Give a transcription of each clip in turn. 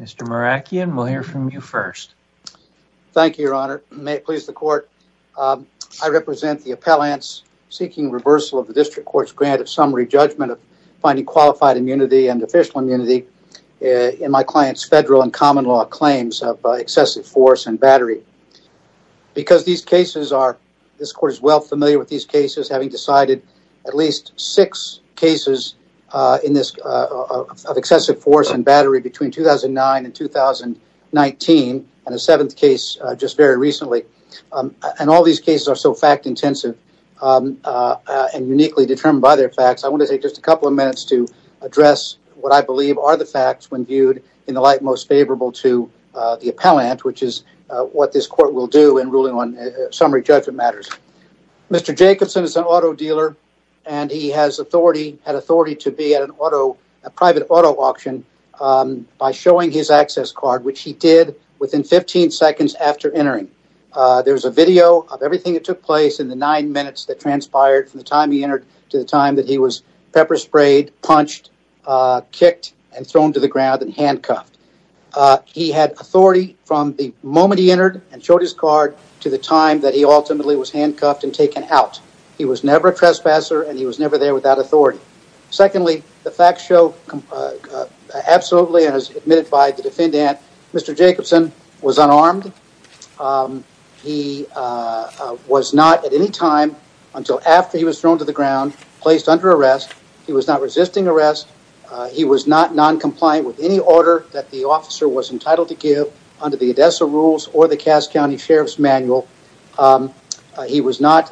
Mr. Merakian, we'll hear from you first. Thank you, your honor. May it please the court, I represent the appellants seeking reversal of the district court's grant of summary judgment of finding qualified immunity and official immunity in my client's federal and common law claims of excessive force and battery. Because these cases are, this court is well familiar with these cases, having decided at least six cases in this excessive force and battery between 2009 and 2019 and a seventh case just very recently. And all these cases are so fact intensive and uniquely determined by their facts, I want to take just a couple of minutes to address what I believe are the facts when viewed in the light most favorable to the appellant, which is what this court will do in ruling on summary judgment matters. Mr. Jacobsen is an auto dealer and he has authority, had authority to be at an auto, a private auto auction by showing his access card, which he did within 15 seconds after entering. There's a video of everything that took place in the nine minutes that transpired from the time he entered to the time that he was pepper sprayed, punched, kicked, and thrown to the ground and handcuffed. He had authority from the moment he entered and showed his card to the time that he ultimately was handcuffed and taken out. He was never a trespasser and he was never there without authority. Secondly, the facts show absolutely and as admitted by the defendant, Mr. Jacobsen was unarmed. He was not at any time until after he was thrown to the ground, placed under arrest, he was not resisting arrest, he was not non-compliant with any order that the officer was entitled to give under the Odessa rules or the Cass County Sheriff's manual. He was not,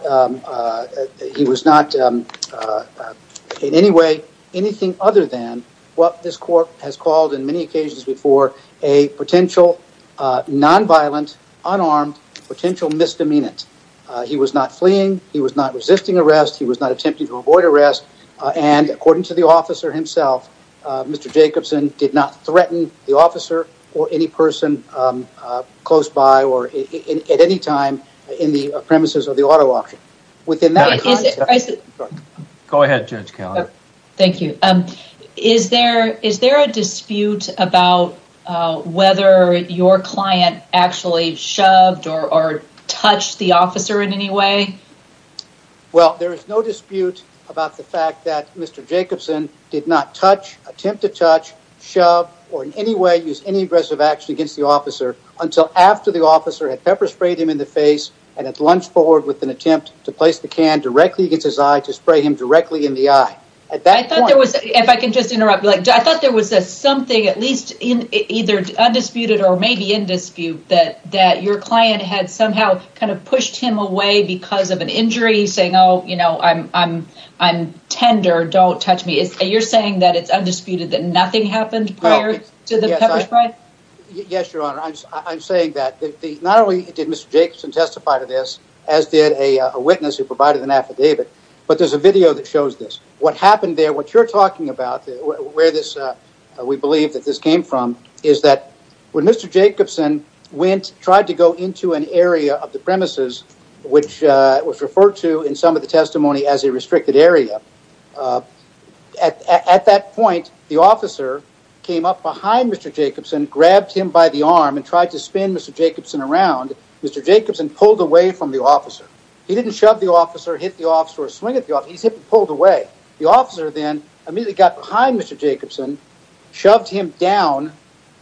he was not in any way anything other than what this court has called in many occasions before a potential non-violent, unarmed, potential misdemeanant. He was not fleeing, he was not arresting, and according to the officer himself, Mr. Jacobsen did not threaten the officer or any person close by or at any time in the premises of the auto auction. Go ahead, Judge Callender. Thank you. Is there a dispute about whether your client actually shoved or touched the officer in any way? Well, there is no dispute about the fact that Mr. Jacobsen did not touch, attempt to touch, shove, or in any way use any aggressive action against the officer until after the officer had pepper sprayed him in the face and had lunged forward with an attempt to place the can directly against his eye to spray him directly in the eye. At that point... I thought there was, if I can just interrupt, like I thought there was something at least in either undisputed or maybe in dispute that that your client had somehow kind of pushed him away because of an injury saying, oh, you know, I'm tender, don't touch me. You're saying that it's undisputed that nothing happened prior to the pepper spray? Yes, Your Honor, I'm saying that not only did Mr. Jacobsen testify to this, as did a witness who provided an affidavit, but there's a video that shows this. What happened there, what you're talking about, where this, we believe that this came from, is that when Mr. Jacobsen went, tried to go into an area of the premises, which was referred to in some of the testimony as a restricted area. At that point, the officer came up behind Mr. Jacobsen, grabbed him by the arm, and tried to spin Mr. Jacobsen around. Mr. Jacobsen pulled away from the officer. He didn't shove the officer, hit the officer, or swing at the officer. He simply pulled away. The officer then immediately got behind Mr. Jacobsen, shoved him down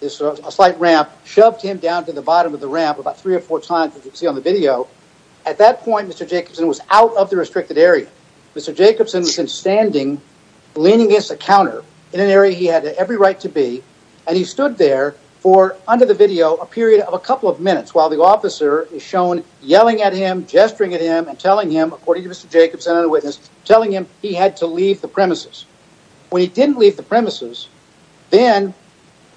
this slight ramp, shoved him down to the bottom of the ramp about three or four times, as you can see on the video. At that point, Mr. Jacobsen was out of the restricted area. Mr. Jacobsen was standing, leaning against a counter in an area he had every right to be, and he stood there for, under the video, a period of a couple of minutes while the officer is shown yelling at him, gesturing at him, telling him, according to Mr. Jacobsen, another witness, telling him he had to leave the premises. When he didn't leave the premises, then,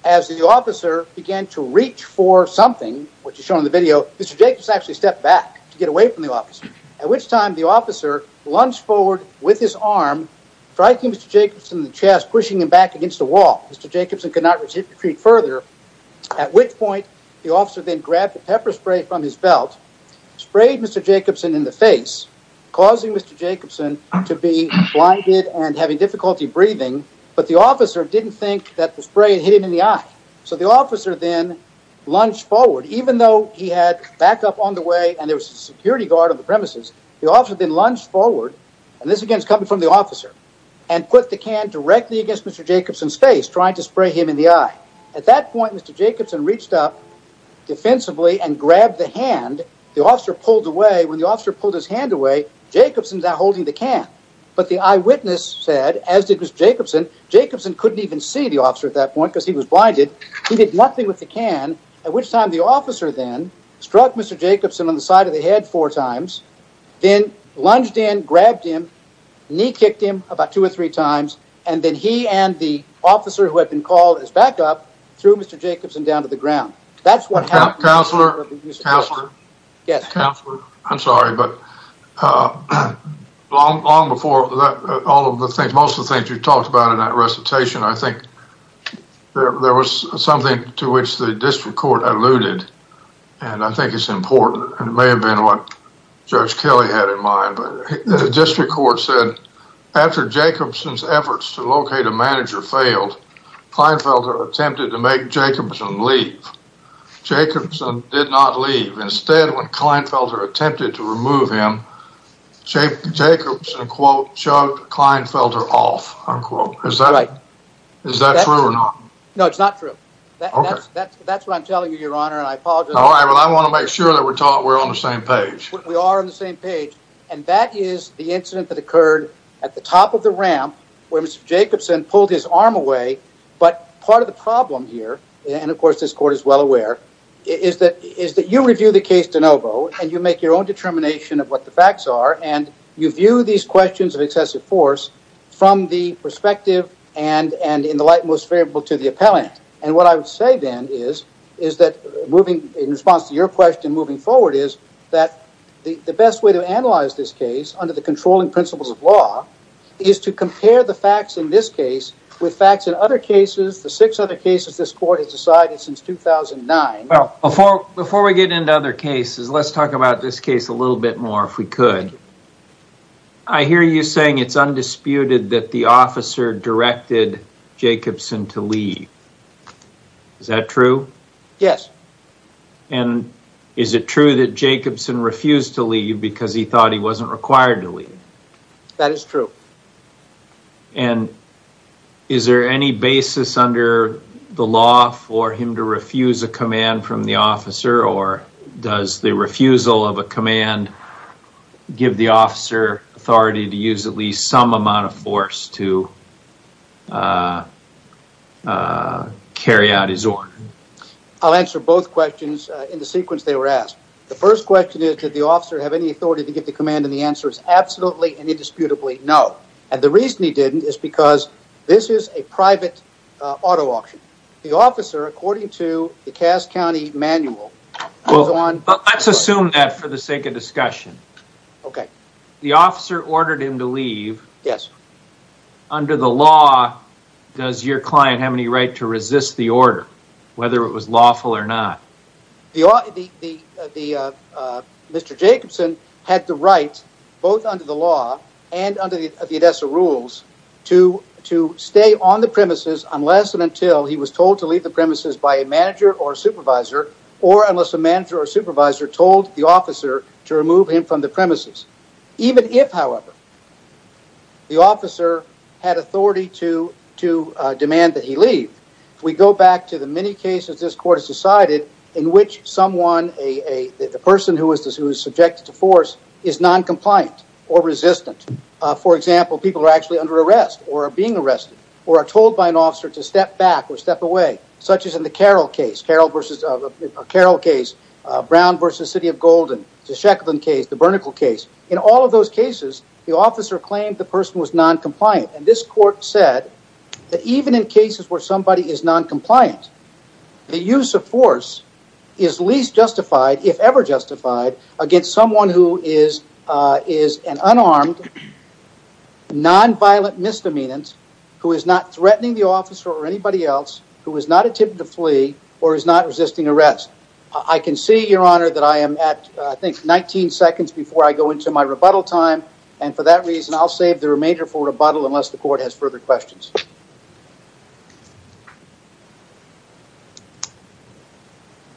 as the officer began to reach for something, which is shown in the video, Mr. Jacobsen actually stepped back to get away from the officer, at which time the officer lunged forward with his arm, striking Mr. Jacobsen in the chest, pushing him back against the wall. Mr. Jacobsen could not retreat further, at which point the causing Mr. Jacobsen to be blinded and having difficulty breathing, but the officer didn't think that the spray had hit him in the eye. So the officer then lunged forward, even though he had backup on the way and there was a security guard on the premises, the officer then lunged forward, and this again is coming from the officer, and put the can directly against Mr. Jacobsen's face, trying to spray him in the eye. At that point, Mr. Jacobsen reached up defensively and when the officer pulled his hand away, Jacobsen's now holding the can, but the eyewitness said, as did Mr. Jacobsen, Jacobsen couldn't even see the officer at that point because he was blinded. He did nothing with the can, at which time the officer then struck Mr. Jacobsen on the side of the head four times, then lunged in, grabbed him, knee kicked him about two or three times, and then he and the officer who had been called as backup, threw Mr. Jacobsen down to the ground. That's what happened. Counselor, I'm sorry, but long before all of the things, most of the things you talked about in that recitation, I think there was something to which the district court alluded, and I think it's important, and it may have been what Judge Kelly had in mind, but the district court said, after Jacobsen's efforts to locate a manager failed, Kleinfelter attempted to make Jacobsen did not leave. Instead, when Kleinfelter attempted to remove him, Jacobsen, quote, shoved Kleinfelter off, unquote. Is that right? Is that true or not? No, it's not true. That's what I'm telling you, your honor, and I apologize. All right, well, I want to make sure that we're taught we're on the same page. We are on the same page, and that is the incident that occurred at the top of the ramp where Mr. Jacobsen pulled his arm away, but part of the problem here, and of course this court is well aware, is that you review the case de novo, and you make your own determination of what the facts are, and you view these questions of excessive force from the perspective and in the light most favorable to the appellant, and what I would say then is that moving in response to your question moving forward is that the best way to analyze this case under the controlling principles of law is to compare the facts in this case with facts in other cases, the six other cases this court has decided since 2009. Well, before we get into other cases, let's talk about this case a little bit more if we could. I hear you saying it's undisputed that the officer directed Jacobsen to leave. Is that true? Yes. And is it true that Jacobsen refused to leave because he thought he wasn't required to leave? That is true. And is there any basis under the law for him to refuse a command from the officer, or does the refusal of a command give the officer authority to use at least some amount of force to carry out his order? I'll answer both questions in the sequence they were asked. The first question is did the officer have any authority to give the command, and the answer is absolutely and the reason he didn't is because this is a private auto auction. The officer, according to the Cass County manual... Well, let's assume that for the sake of discussion. Okay. The officer ordered him to leave. Yes. Under the law, does your client have any right to resist the order, whether it was rules to stay on the premises unless and until he was told to leave the premises by a manager or supervisor or unless a manager or supervisor told the officer to remove him from the premises. Even if, however, the officer had authority to demand that he leave, we go back to the many cases this court has decided in which someone, the person who is subjected to force is noncompliant or resistant. For example, people are actually under arrest or are being arrested or are told by an officer to step back or step away, such as in the Carroll case, Brown versus City of Golden, the Sheckland case, the Bernickel case. In all of those cases, the officer claimed the person was noncompliant, and this court said that even in cases where somebody is noncompliant, the use of force is least justified, if ever justified, against someone who is an unarmed, nonviolent misdemeanant who is not threatening the officer or anybody else, who is not attempting to flee or is not resisting arrest. I can see, Your Honor, that I am at, I think, 19 seconds before I go into my rebuttal time, and for that reason, I'll save the remainder for rebuttal unless the court decides otherwise.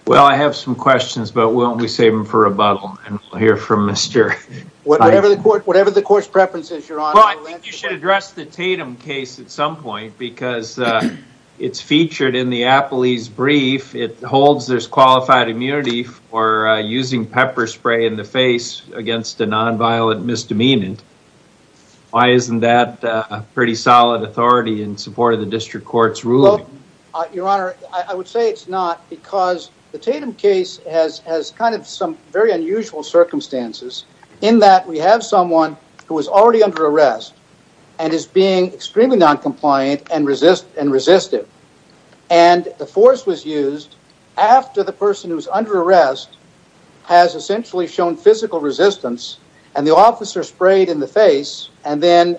Well, I have some questions, but why don't we save them for rebuttal, and we'll hear from Mr. Feinberg. Whatever the court's preference is, Your Honor. Well, I think you should address the Tatum case at some point, because it's featured in the Appley's brief. It holds there's qualified immunity for using pepper spray in the face against a nonviolent misdemeanant. Why isn't that a pretty solid authority in support of the district court's ruling? Your Honor, I would say it's not, because the Tatum case has kind of some very unusual circumstances in that we have someone who is already under arrest and is being extremely noncompliant and resistive, and the force was used after the person who's under arrest has essentially shown physical resistance, and the officer sprayed in the face and then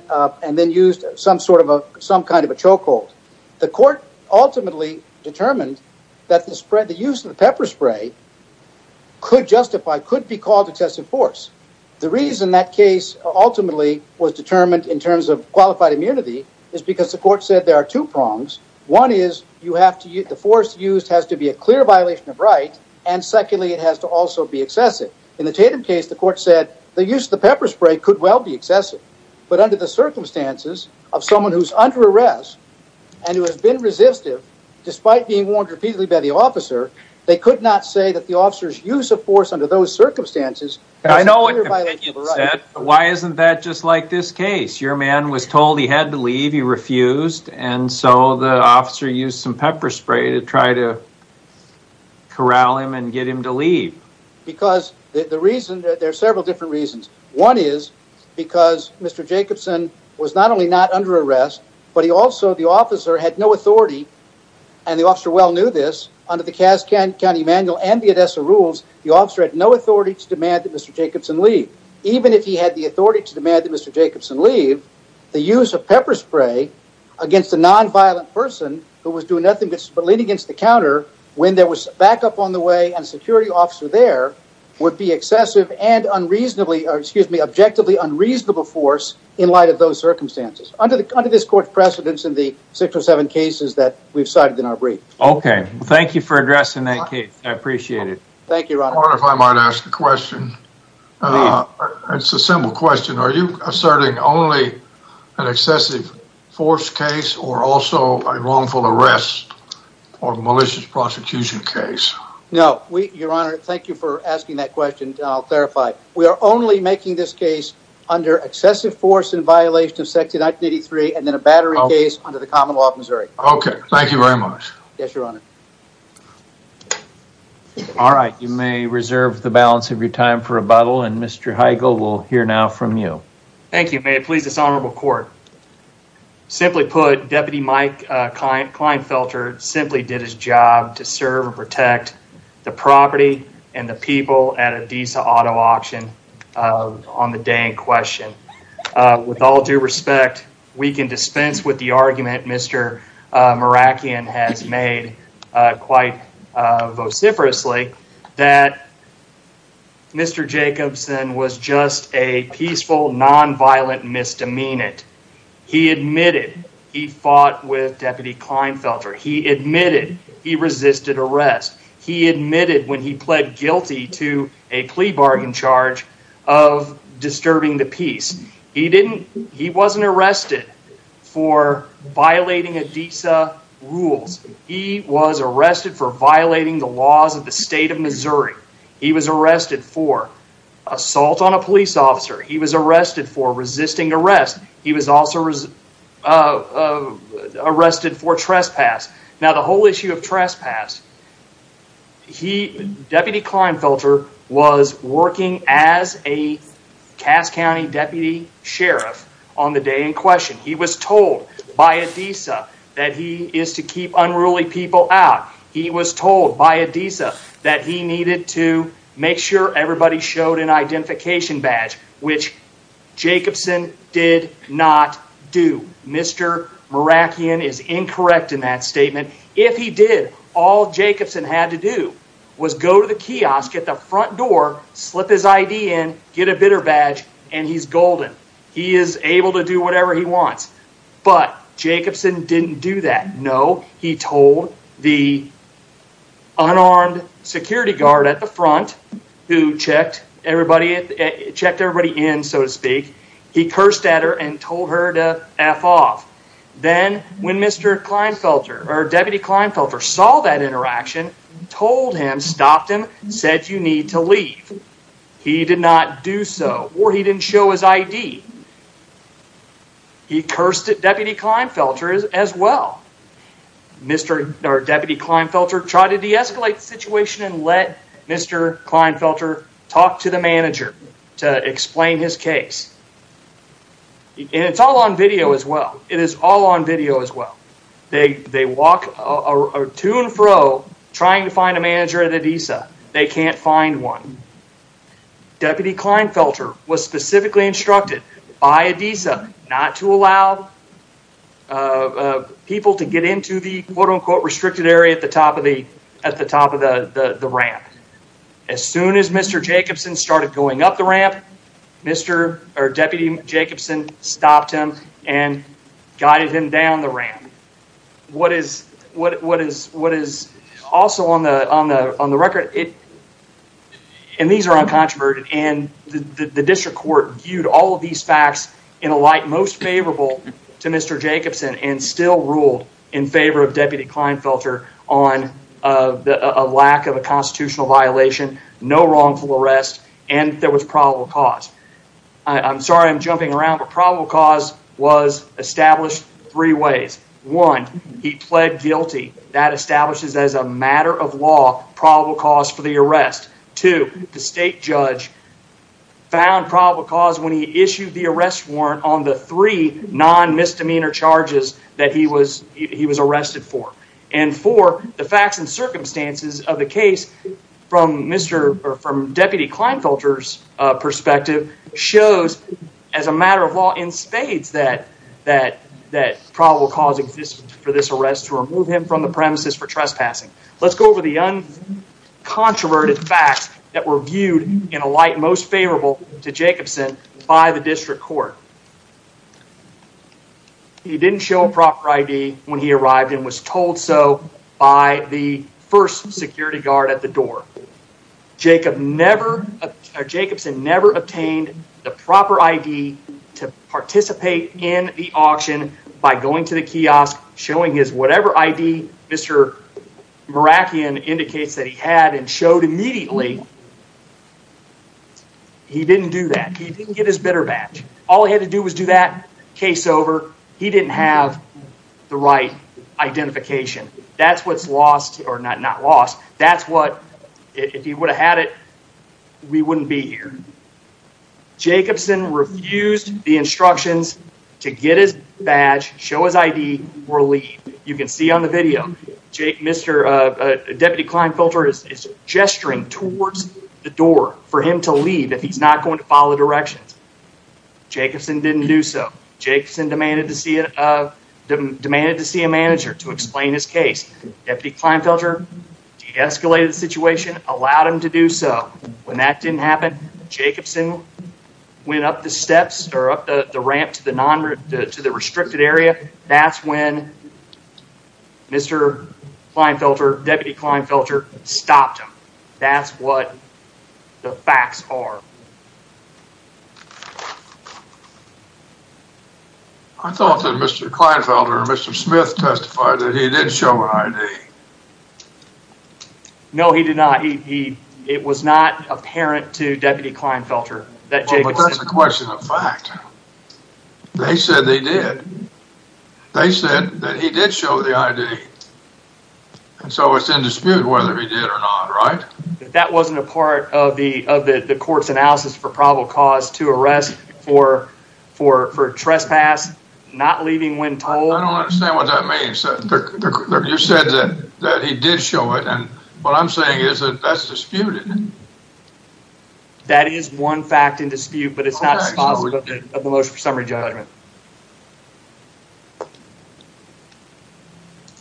used some kind of a chokehold. The court ultimately determined that the use of the pepper spray could justify, could be called excessive force. The reason that case ultimately was determined in terms of qualified immunity is because the court said there are two prongs. One is the force used has to be a clear violation of right, and secondly, it has to also be excessive. In the Tatum case, the court said the use of the pepper spray could well be excessive, but under the circumstances of someone who's under arrest and who has been resistive, despite being warned repeatedly by the officer, they could not say that the officer's use of force under those circumstances was a clear violation of the right. I know what you said, but why isn't that just like this case? Your man was told he had to leave, he refused, and so the officer used some pepper spray to try to corral him and get him to leave. Because the reason, there are Mr. Jacobson was not only not under arrest, but he also, the officer had no authority, and the officer well knew this, under the Kask County Manual and the Odessa rules, the officer had no authority to demand that Mr. Jacobson leave. Even if he had the authority to demand that Mr. Jacobson leave, the use of pepper spray against a non-violent person who was doing nothing but spilling against the counter when there was backup on the way and a security officer there would be excessive and objectively unreasonable force in light of those circumstances. Under this court's precedence in the six or seven cases that we've cited in our brief. Okay, thank you for addressing that case. I appreciate it. Thank you, your honor. If I might ask a question. It's a simple question. Are you asserting only an excessive force case or also a wrongful arrest or malicious prosecution case? No, your honor, thank you for asking that question. I'll clarify. We are only making this case under excessive force in violation of section 1983 and then a battery case under the common law of Missouri. Okay, thank you very much. Yes, your honor. All right, you may reserve the balance of your time for rebuttal and Mr. Heigl will hear now from you. Thank you, may it please this honorable court. Simply put, Deputy Mike Kleinfelter simply did his job to serve and protect the property and the people at Adisa auto auction on the day in question. With all due respect, we can dispense with the argument Mr. Merakian has made quite vociferously that Mr. Jacobson was just a peaceful non-violent misdemeanant. He admitted he fought with Deputy Kleinfelter. He admitted he resisted arrest. He admitted when he pled guilty to a plea bargain charge of disturbing the peace. He wasn't arrested for violating Adisa rules. He was arrested for violating the laws of the state of Missouri. He was arrested for assault on a police officer. He was arrested for resisting arrest. He was also arrested for trespass. Now the whole issue of trespass, Deputy Kleinfelter was working as a Cass County deputy sheriff on the day in question. He was told by Adisa that he is to keep unruly people out. He was told by Adisa that he needed to make sure everybody showed an identification badge, which Jacobson did not do. Mr. Merakian is incorrect in that statement. If he did, all Jacobson had to do was go to the kiosk at the front door, slip his badge. Jacobson didn't do that. No, he told the unarmed security guard at the front who checked everybody in, so to speak. He cursed at her and told her to F off. Then when Mr. Kleinfelter or Deputy Kleinfelter saw that interaction, told him, stopped him, said you need to leave. He did not do so or he didn't show his ID. He cursed at Deputy Kleinfelter as well. Mr. or Deputy Kleinfelter tried to deescalate the situation and let Mr. Kleinfelter talk to the manager to explain his case. It's all on video as well. It is all on video as well. They walk to and fro trying to find a manager at Adisa. They can't find one. Deputy Kleinfelter was specifically instructed by Adisa not to allow people to get into the quote-unquote restricted area at the top of the ramp. As soon as Mr. Jacobson started going up ramp, Mr. or Deputy Jacobson stopped him and guided him down the ramp. What is also on the record, and these are uncontroverted, and the district court viewed all of these facts in a light most favorable to Mr. Jacobson and still ruled in favor of Deputy Kleinfelter on a lack of a constitutional violation, no wrongful arrest, and there was probable cause. I'm sorry I'm jumping around, but probable cause was established three ways. One, he pled guilty. That establishes as a matter of law probable cause for the arrest. Two, the state judge found probable cause when he issued the arrest warrant on the three non-misdemeanor charges that he was arrested for. And four, the facts and circumstances of the case from Mr. or from Deputy Kleinfelter's perspective shows as a matter of law in spades that probable cause exists for this arrest to remove him from the premises for trespassing. Let's go over the uncontroverted facts that were viewed in a light most favorable to Jacobson by the district court. He didn't show a proper ID when he arrived and was told so by the first security guard at the door. Jacobson never obtained the proper ID to participate in the auction by going to the kiosk showing his whatever ID Mr. Merakian indicates that he had and showed immediately. He didn't do that. He didn't get his bidder badge. All he had to do was do that case over. He didn't have the right identification. That's what's lost or not not lost. That's what if he would have had it, we wouldn't be here. Jacobson refused the instructions to get his badge, show his ID or leave. You can see on the video Mr. Deputy Kleinfelter is gesturing towards the door for him to leave if he's not going to follow directions. Jacobson didn't do so. Jacobson demanded to see a manager to explain his case. Deputy Kleinfelter de-escalated the situation, allowed him to do so. When that didn't happen, Jacobson went up the steps or up the ramp to the non-to the restricted area. That's when Mr. Kleinfelter, Deputy Kleinfelter stopped him. That's what the facts are. I thought that Mr. Kleinfelter or Mr. Smith testified that he did show an ID. No, he did not. It was not apparent to Deputy Kleinfelter that Jacobson. That's a question of fact. They said they did. They said that he did show the ID and so it's in dispute whether he did or not, right? That wasn't a part of the court's analysis for probable cause to arrest for trespass, not leaving when told. I don't understand what that means. You said that he did show it and what I'm saying is that that's disputed. That is one fact in dispute, but it's not responsible of the motion for summary judgment.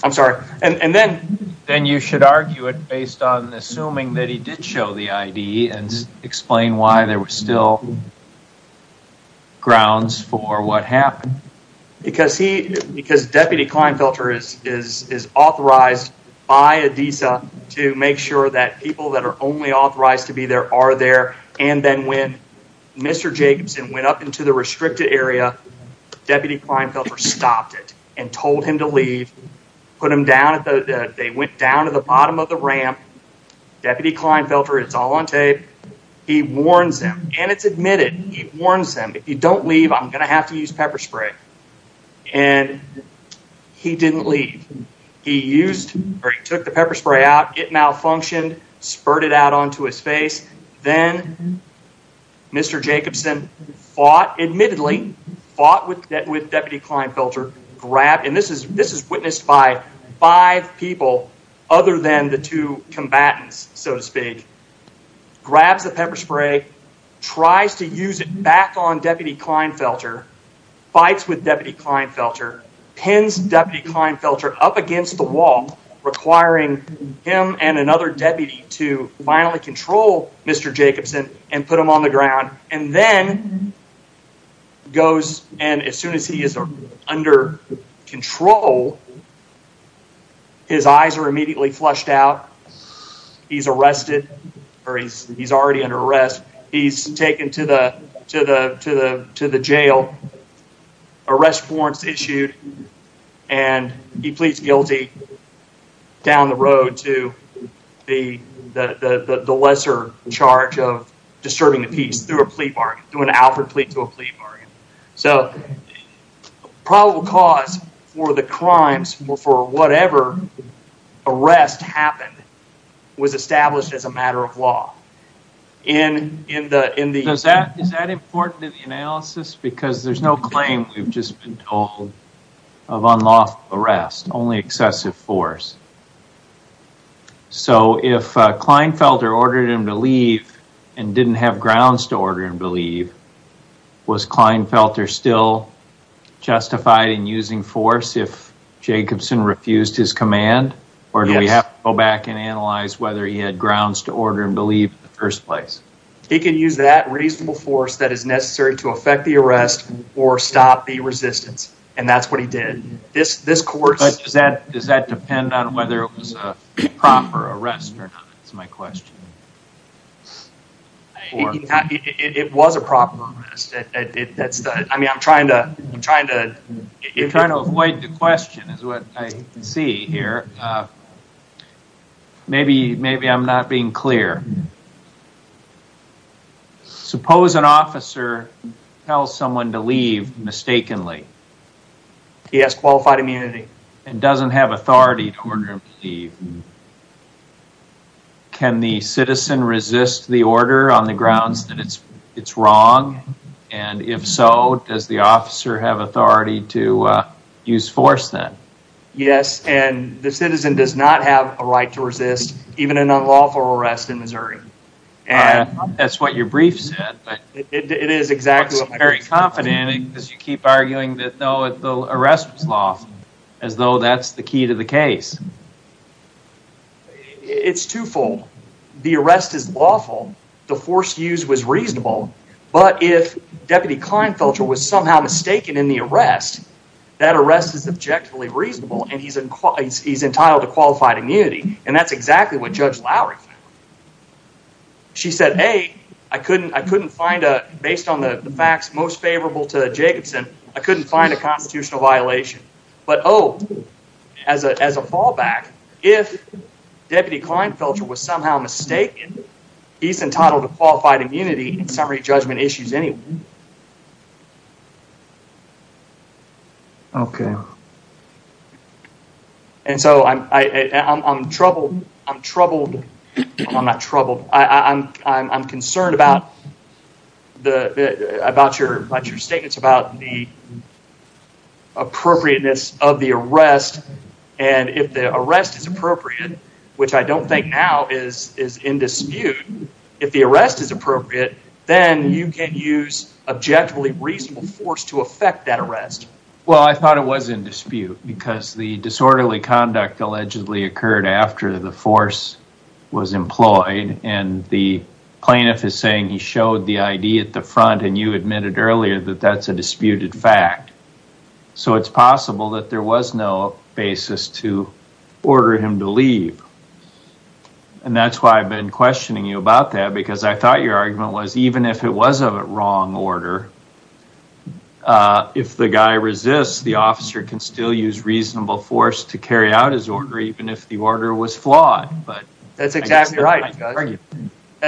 I'm sorry. And then you should argue it based on assuming that he did show the ID and explain why there were still grounds for what happened. Because Deputy Kleinfelter is authorized by ADISA to make sure that people that are only authorized to be there are there and then when Mr. Jacobson went up into the restricted area, Deputy Kleinfelter stopped it and told him to leave, put him down. They went down to the bottom of the ramp. Deputy Kleinfelter, it's all on tape. He warns them and it's admitted. He warns them, if you don't leave, I'm going to have to use pepper spray and he didn't leave. He used or he took the pepper spray out. It malfunctioned, it out onto his face. Then Mr. Jacobson fought, admittedly fought with Deputy Kleinfelter, grabbed, and this is witnessed by five people other than the two combatants, so to speak, grabs the pepper spray, tries to use it back on Deputy Kleinfelter, fights with Deputy Kleinfelter, pins Deputy Kleinfelter up against the wall, requiring him and another deputy to finally control Mr. Jacobson and put him on the ground and then goes and as soon as he is under control, his eyes are immediately flushed out. He's arrested or he's already under arrest. He's and he pleads guilty down the road to the lesser charge of disturbing the peace through a plea bargain, through an Alfred plea to a plea bargain. So probable cause for the crimes for whatever arrest happened was established as a matter of law. Is that important in the analysis? Because there's no claim, we've just been told, of unlawful arrest, only excessive force. So if Kleinfelter ordered him to leave and didn't have grounds to order him to leave, was Kleinfelter still justified in using force if Jacobson refused his command or do we have to go back and analyze whether he had grounds to order him to leave in the first place? He can use that reasonable force that is necessary to affect the arrest or stop the resistance and that's what he did. Does that depend on whether it was a proper arrest or not is my question? It was a proper arrest. I'm trying to avoid the question is what I see here. Okay. Maybe I'm not being clear. Suppose an officer tells someone to leave mistakenly. He has qualified immunity. And doesn't have authority to order him to leave. Can the citizen resist the order on the grounds that it's wrong? And if so, does the officer have authority to use force then? Yes, and the citizen does not have a right to resist even an unlawful arrest in Missouri. That's what your brief said. It is exactly what my brief said. Very confident because you keep arguing that the arrest was law as though that's the key to the case. It's twofold. The arrest is lawful. The force used was reasonable. But if Deputy Klinefelter was somehow mistaken in the arrest, that arrest is objectively reasonable and he's entitled to qualified immunity and that's exactly what Judge Lowry found. She said, hey, I couldn't find a, based on the facts most favorable to Jacobson, I couldn't find a constitutional violation. But oh, as a fallback, if Deputy Klinefelter was somehow mistaken, he's entitled to qualified immunity in summary judgment issues anyway. Okay. And so I'm troubled. I'm troubled. I'm not troubled. I'm concerned about your statements about the appropriateness of the arrest. And if the arrest is appropriate, which I don't think now is in dispute, if the arrest is appropriate, then you can use objectively reasonable force to affect that arrest. Well, I thought it was in dispute because the disorderly conduct allegedly occurred after the force was employed and the plaintiff is saying he showed the ID at the front and you admitted earlier that that's a disputed fact. So it's possible that there was no basis to order him to leave. And that's why I've been questioning you about that because I thought your argument was even if it was a wrong order, if the guy resists, the officer can still use reasonable force to carry out his order even if the order was flawed. But that's exactly right.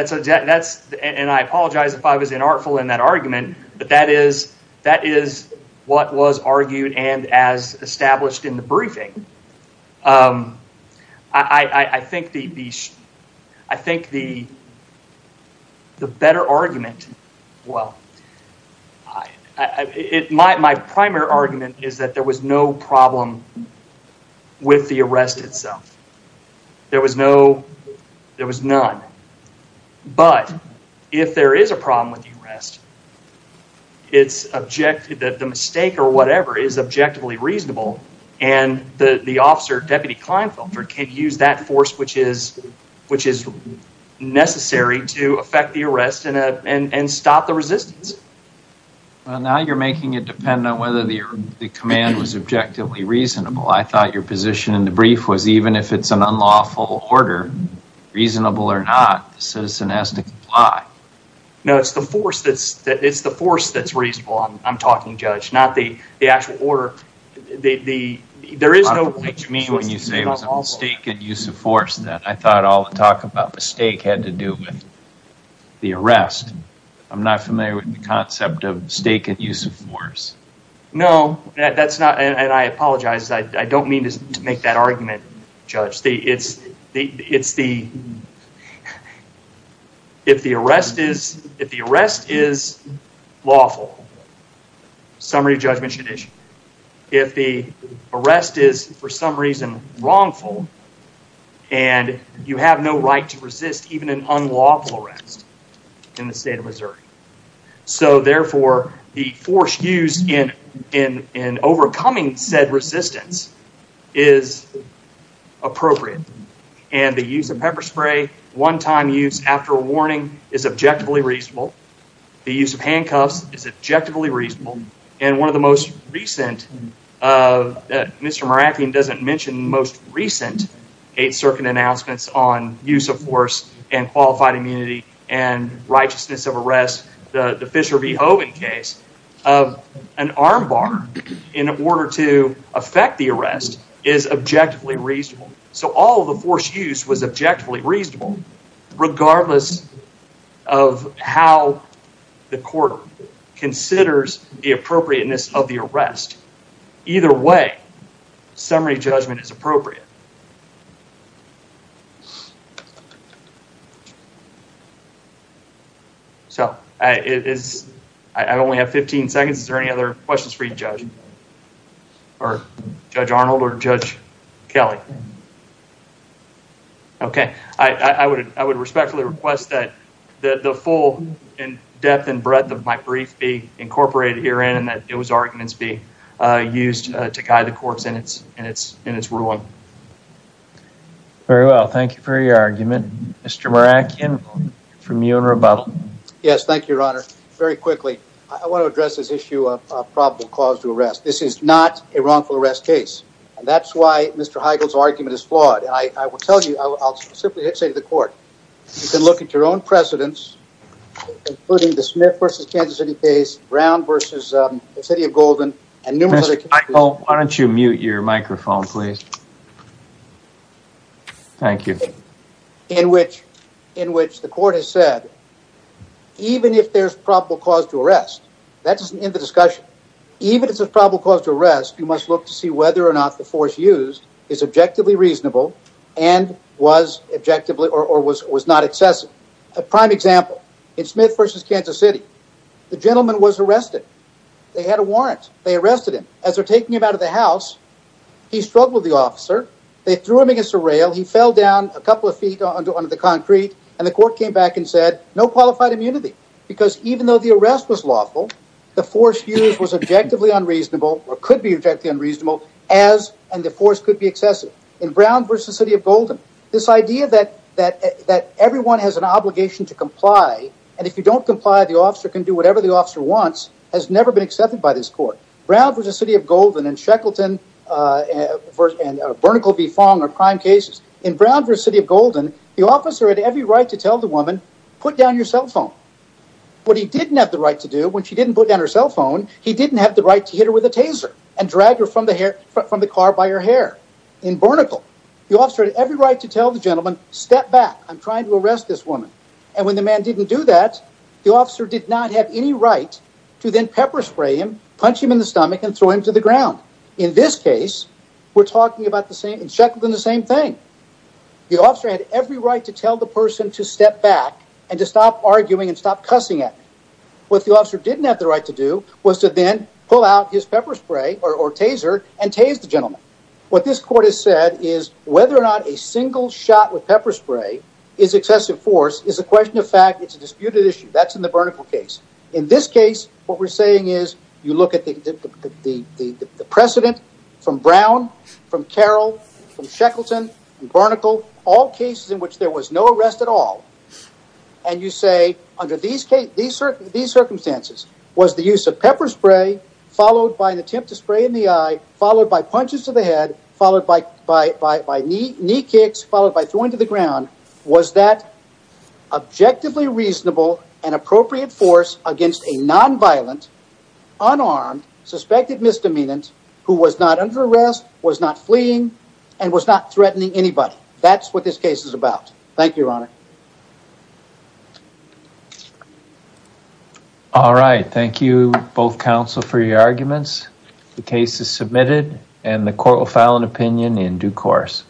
So that's, and I apologize if I was inartful in that argument, but that is what was argued and as established in the briefing. I think the better argument, well, my primary argument is that there was no problem with the arrest itself. There was no, there was none. But if there is a problem with the arrest, it's objective, the mistake or whatever is objectively reasonable and the officer, Deputy Klinefelter, can use that force which is necessary to affect the arrest and stop the resistance. Well, now you're making it depend on whether the command was objectively reasonable. I thought your position in the brief was even if it's an unlawful order, reasonable or not, the citizen has to comply. No, it's the force that's, it's the force that's reasonable. I'm talking, Judge, not the actual order. There is no, what you mean when you say it was a mistake and use of force that I thought all the talk about mistake had to do with the arrest. I'm not familiar with the concept of mistake and use of force. No, that's not, and I apologize, I don't mean to make that argument, Judge. If the arrest is lawful, summary of judgment should issue. If the arrest is for some reason wrongful and you have no right to resist even an unlawful arrest in the state of Missouri. So, therefore, the force used in overcoming said resistance is appropriate. And the use of pepper spray, one-time use after a warning is objectively reasonable. The use of handcuffs is objectively reasonable. And one of the most recent, Mr. Merathian doesn't mention most recent Eighth Circuit announcements on use of force and qualified immunity and righteousness of arrest, the Fisher v. Hogan case of an armbar in order to affect the arrest is objectively reasonable. So, all of the force used was objectively reasonable regardless of how the court considers the appropriateness of the arrest. Either way, summary judgment is appropriate. So, I only have 15 seconds. Is there any other questions for you, Judge? Or Judge Arnold or Judge Kelly? Okay. I would respectfully request that the full depth and breadth of my brief be incorporated herein and that those arguments be used to guide the court in its ruling. Thank you. Very well. Thank you for your argument. Mr. Merathian, from you and rebuttal. Yes, thank you, Your Honor. Very quickly, I want to address this issue of probable cause to arrest. This is not a wrongful arrest case. And that's why Mr. Heigl's argument is flawed. And I will tell you, I'll simply say to the court, you can look at your own precedents, including the Smith v. Kansas City case, Brown v. the City of Golden, and numerous other cases in which the court has said, even if there's probable cause to arrest, that doesn't end the discussion. Even if there's probable cause to arrest, you must look to see whether or not the force used is objectively reasonable and was not excessive. A prime example, in Smith v. Kansas City, the gentleman was arrested. They had a warrant. They arrested him. As they're taking him out of the house, he struggled with the officer. They threw him against a rail. He fell down a couple of feet onto the concrete. And the court came back and said, no qualified immunity. Because even though the arrest was lawful, the force used was objectively unreasonable or could be objectively unreasonable, and the force could be excessive. In Brown v. the City of Golden, this idea that everyone has an obligation to comply, and if you don't comply, the officer can do whatever the officer wants, has never been accepted by this court. Brown v. the City of Golden and Sheckleton and Bernicle v. Fong are prime cases. In Brown v. the City of Golden, the officer had every right to tell the woman, put down your cell phone. What he didn't have the right to do, when she didn't put down her cell phone, he didn't have the right to hit her with a taser and drag her from the car by her hair. In Bernicle, the officer had every right to tell the gentleman, step back, I'm trying to arrest this woman. And when the man didn't do that, the officer did not have any right to then pepper spray him, punch him in the stomach, and throw him to the ground. In this case, we're talking about the same, Sheckleton, the same thing. The officer had every right to tell the person to step back and to stop arguing and stop cussing at him. What the officer didn't have the right to do was to then pull out his pepper spray or taser and tase the gentleman. What this court has said is whether or not a single shot with pepper spray is excessive force is a question of fact. It's a disputed issue. That's in the Bernicle case. In this case, what we're saying is you look at the precedent from Brown, from Carroll, from Sheckleton, and Bernicle, all cases in which there was no arrest at all, and you say under these circumstances, was the use of pepper spray followed by an attempt to spray in the eye, followed by punches to the head, followed by knee kicks, followed by was that objectively reasonable and appropriate force against a nonviolent, unarmed, suspected misdemeanant who was not under arrest, was not fleeing, and was not threatening anybody. That's what this case is about. Thank you, Your Honor. All right. Thank you, both counsel, for your arguments. The case is submitted, and the court will file an opinion in due course.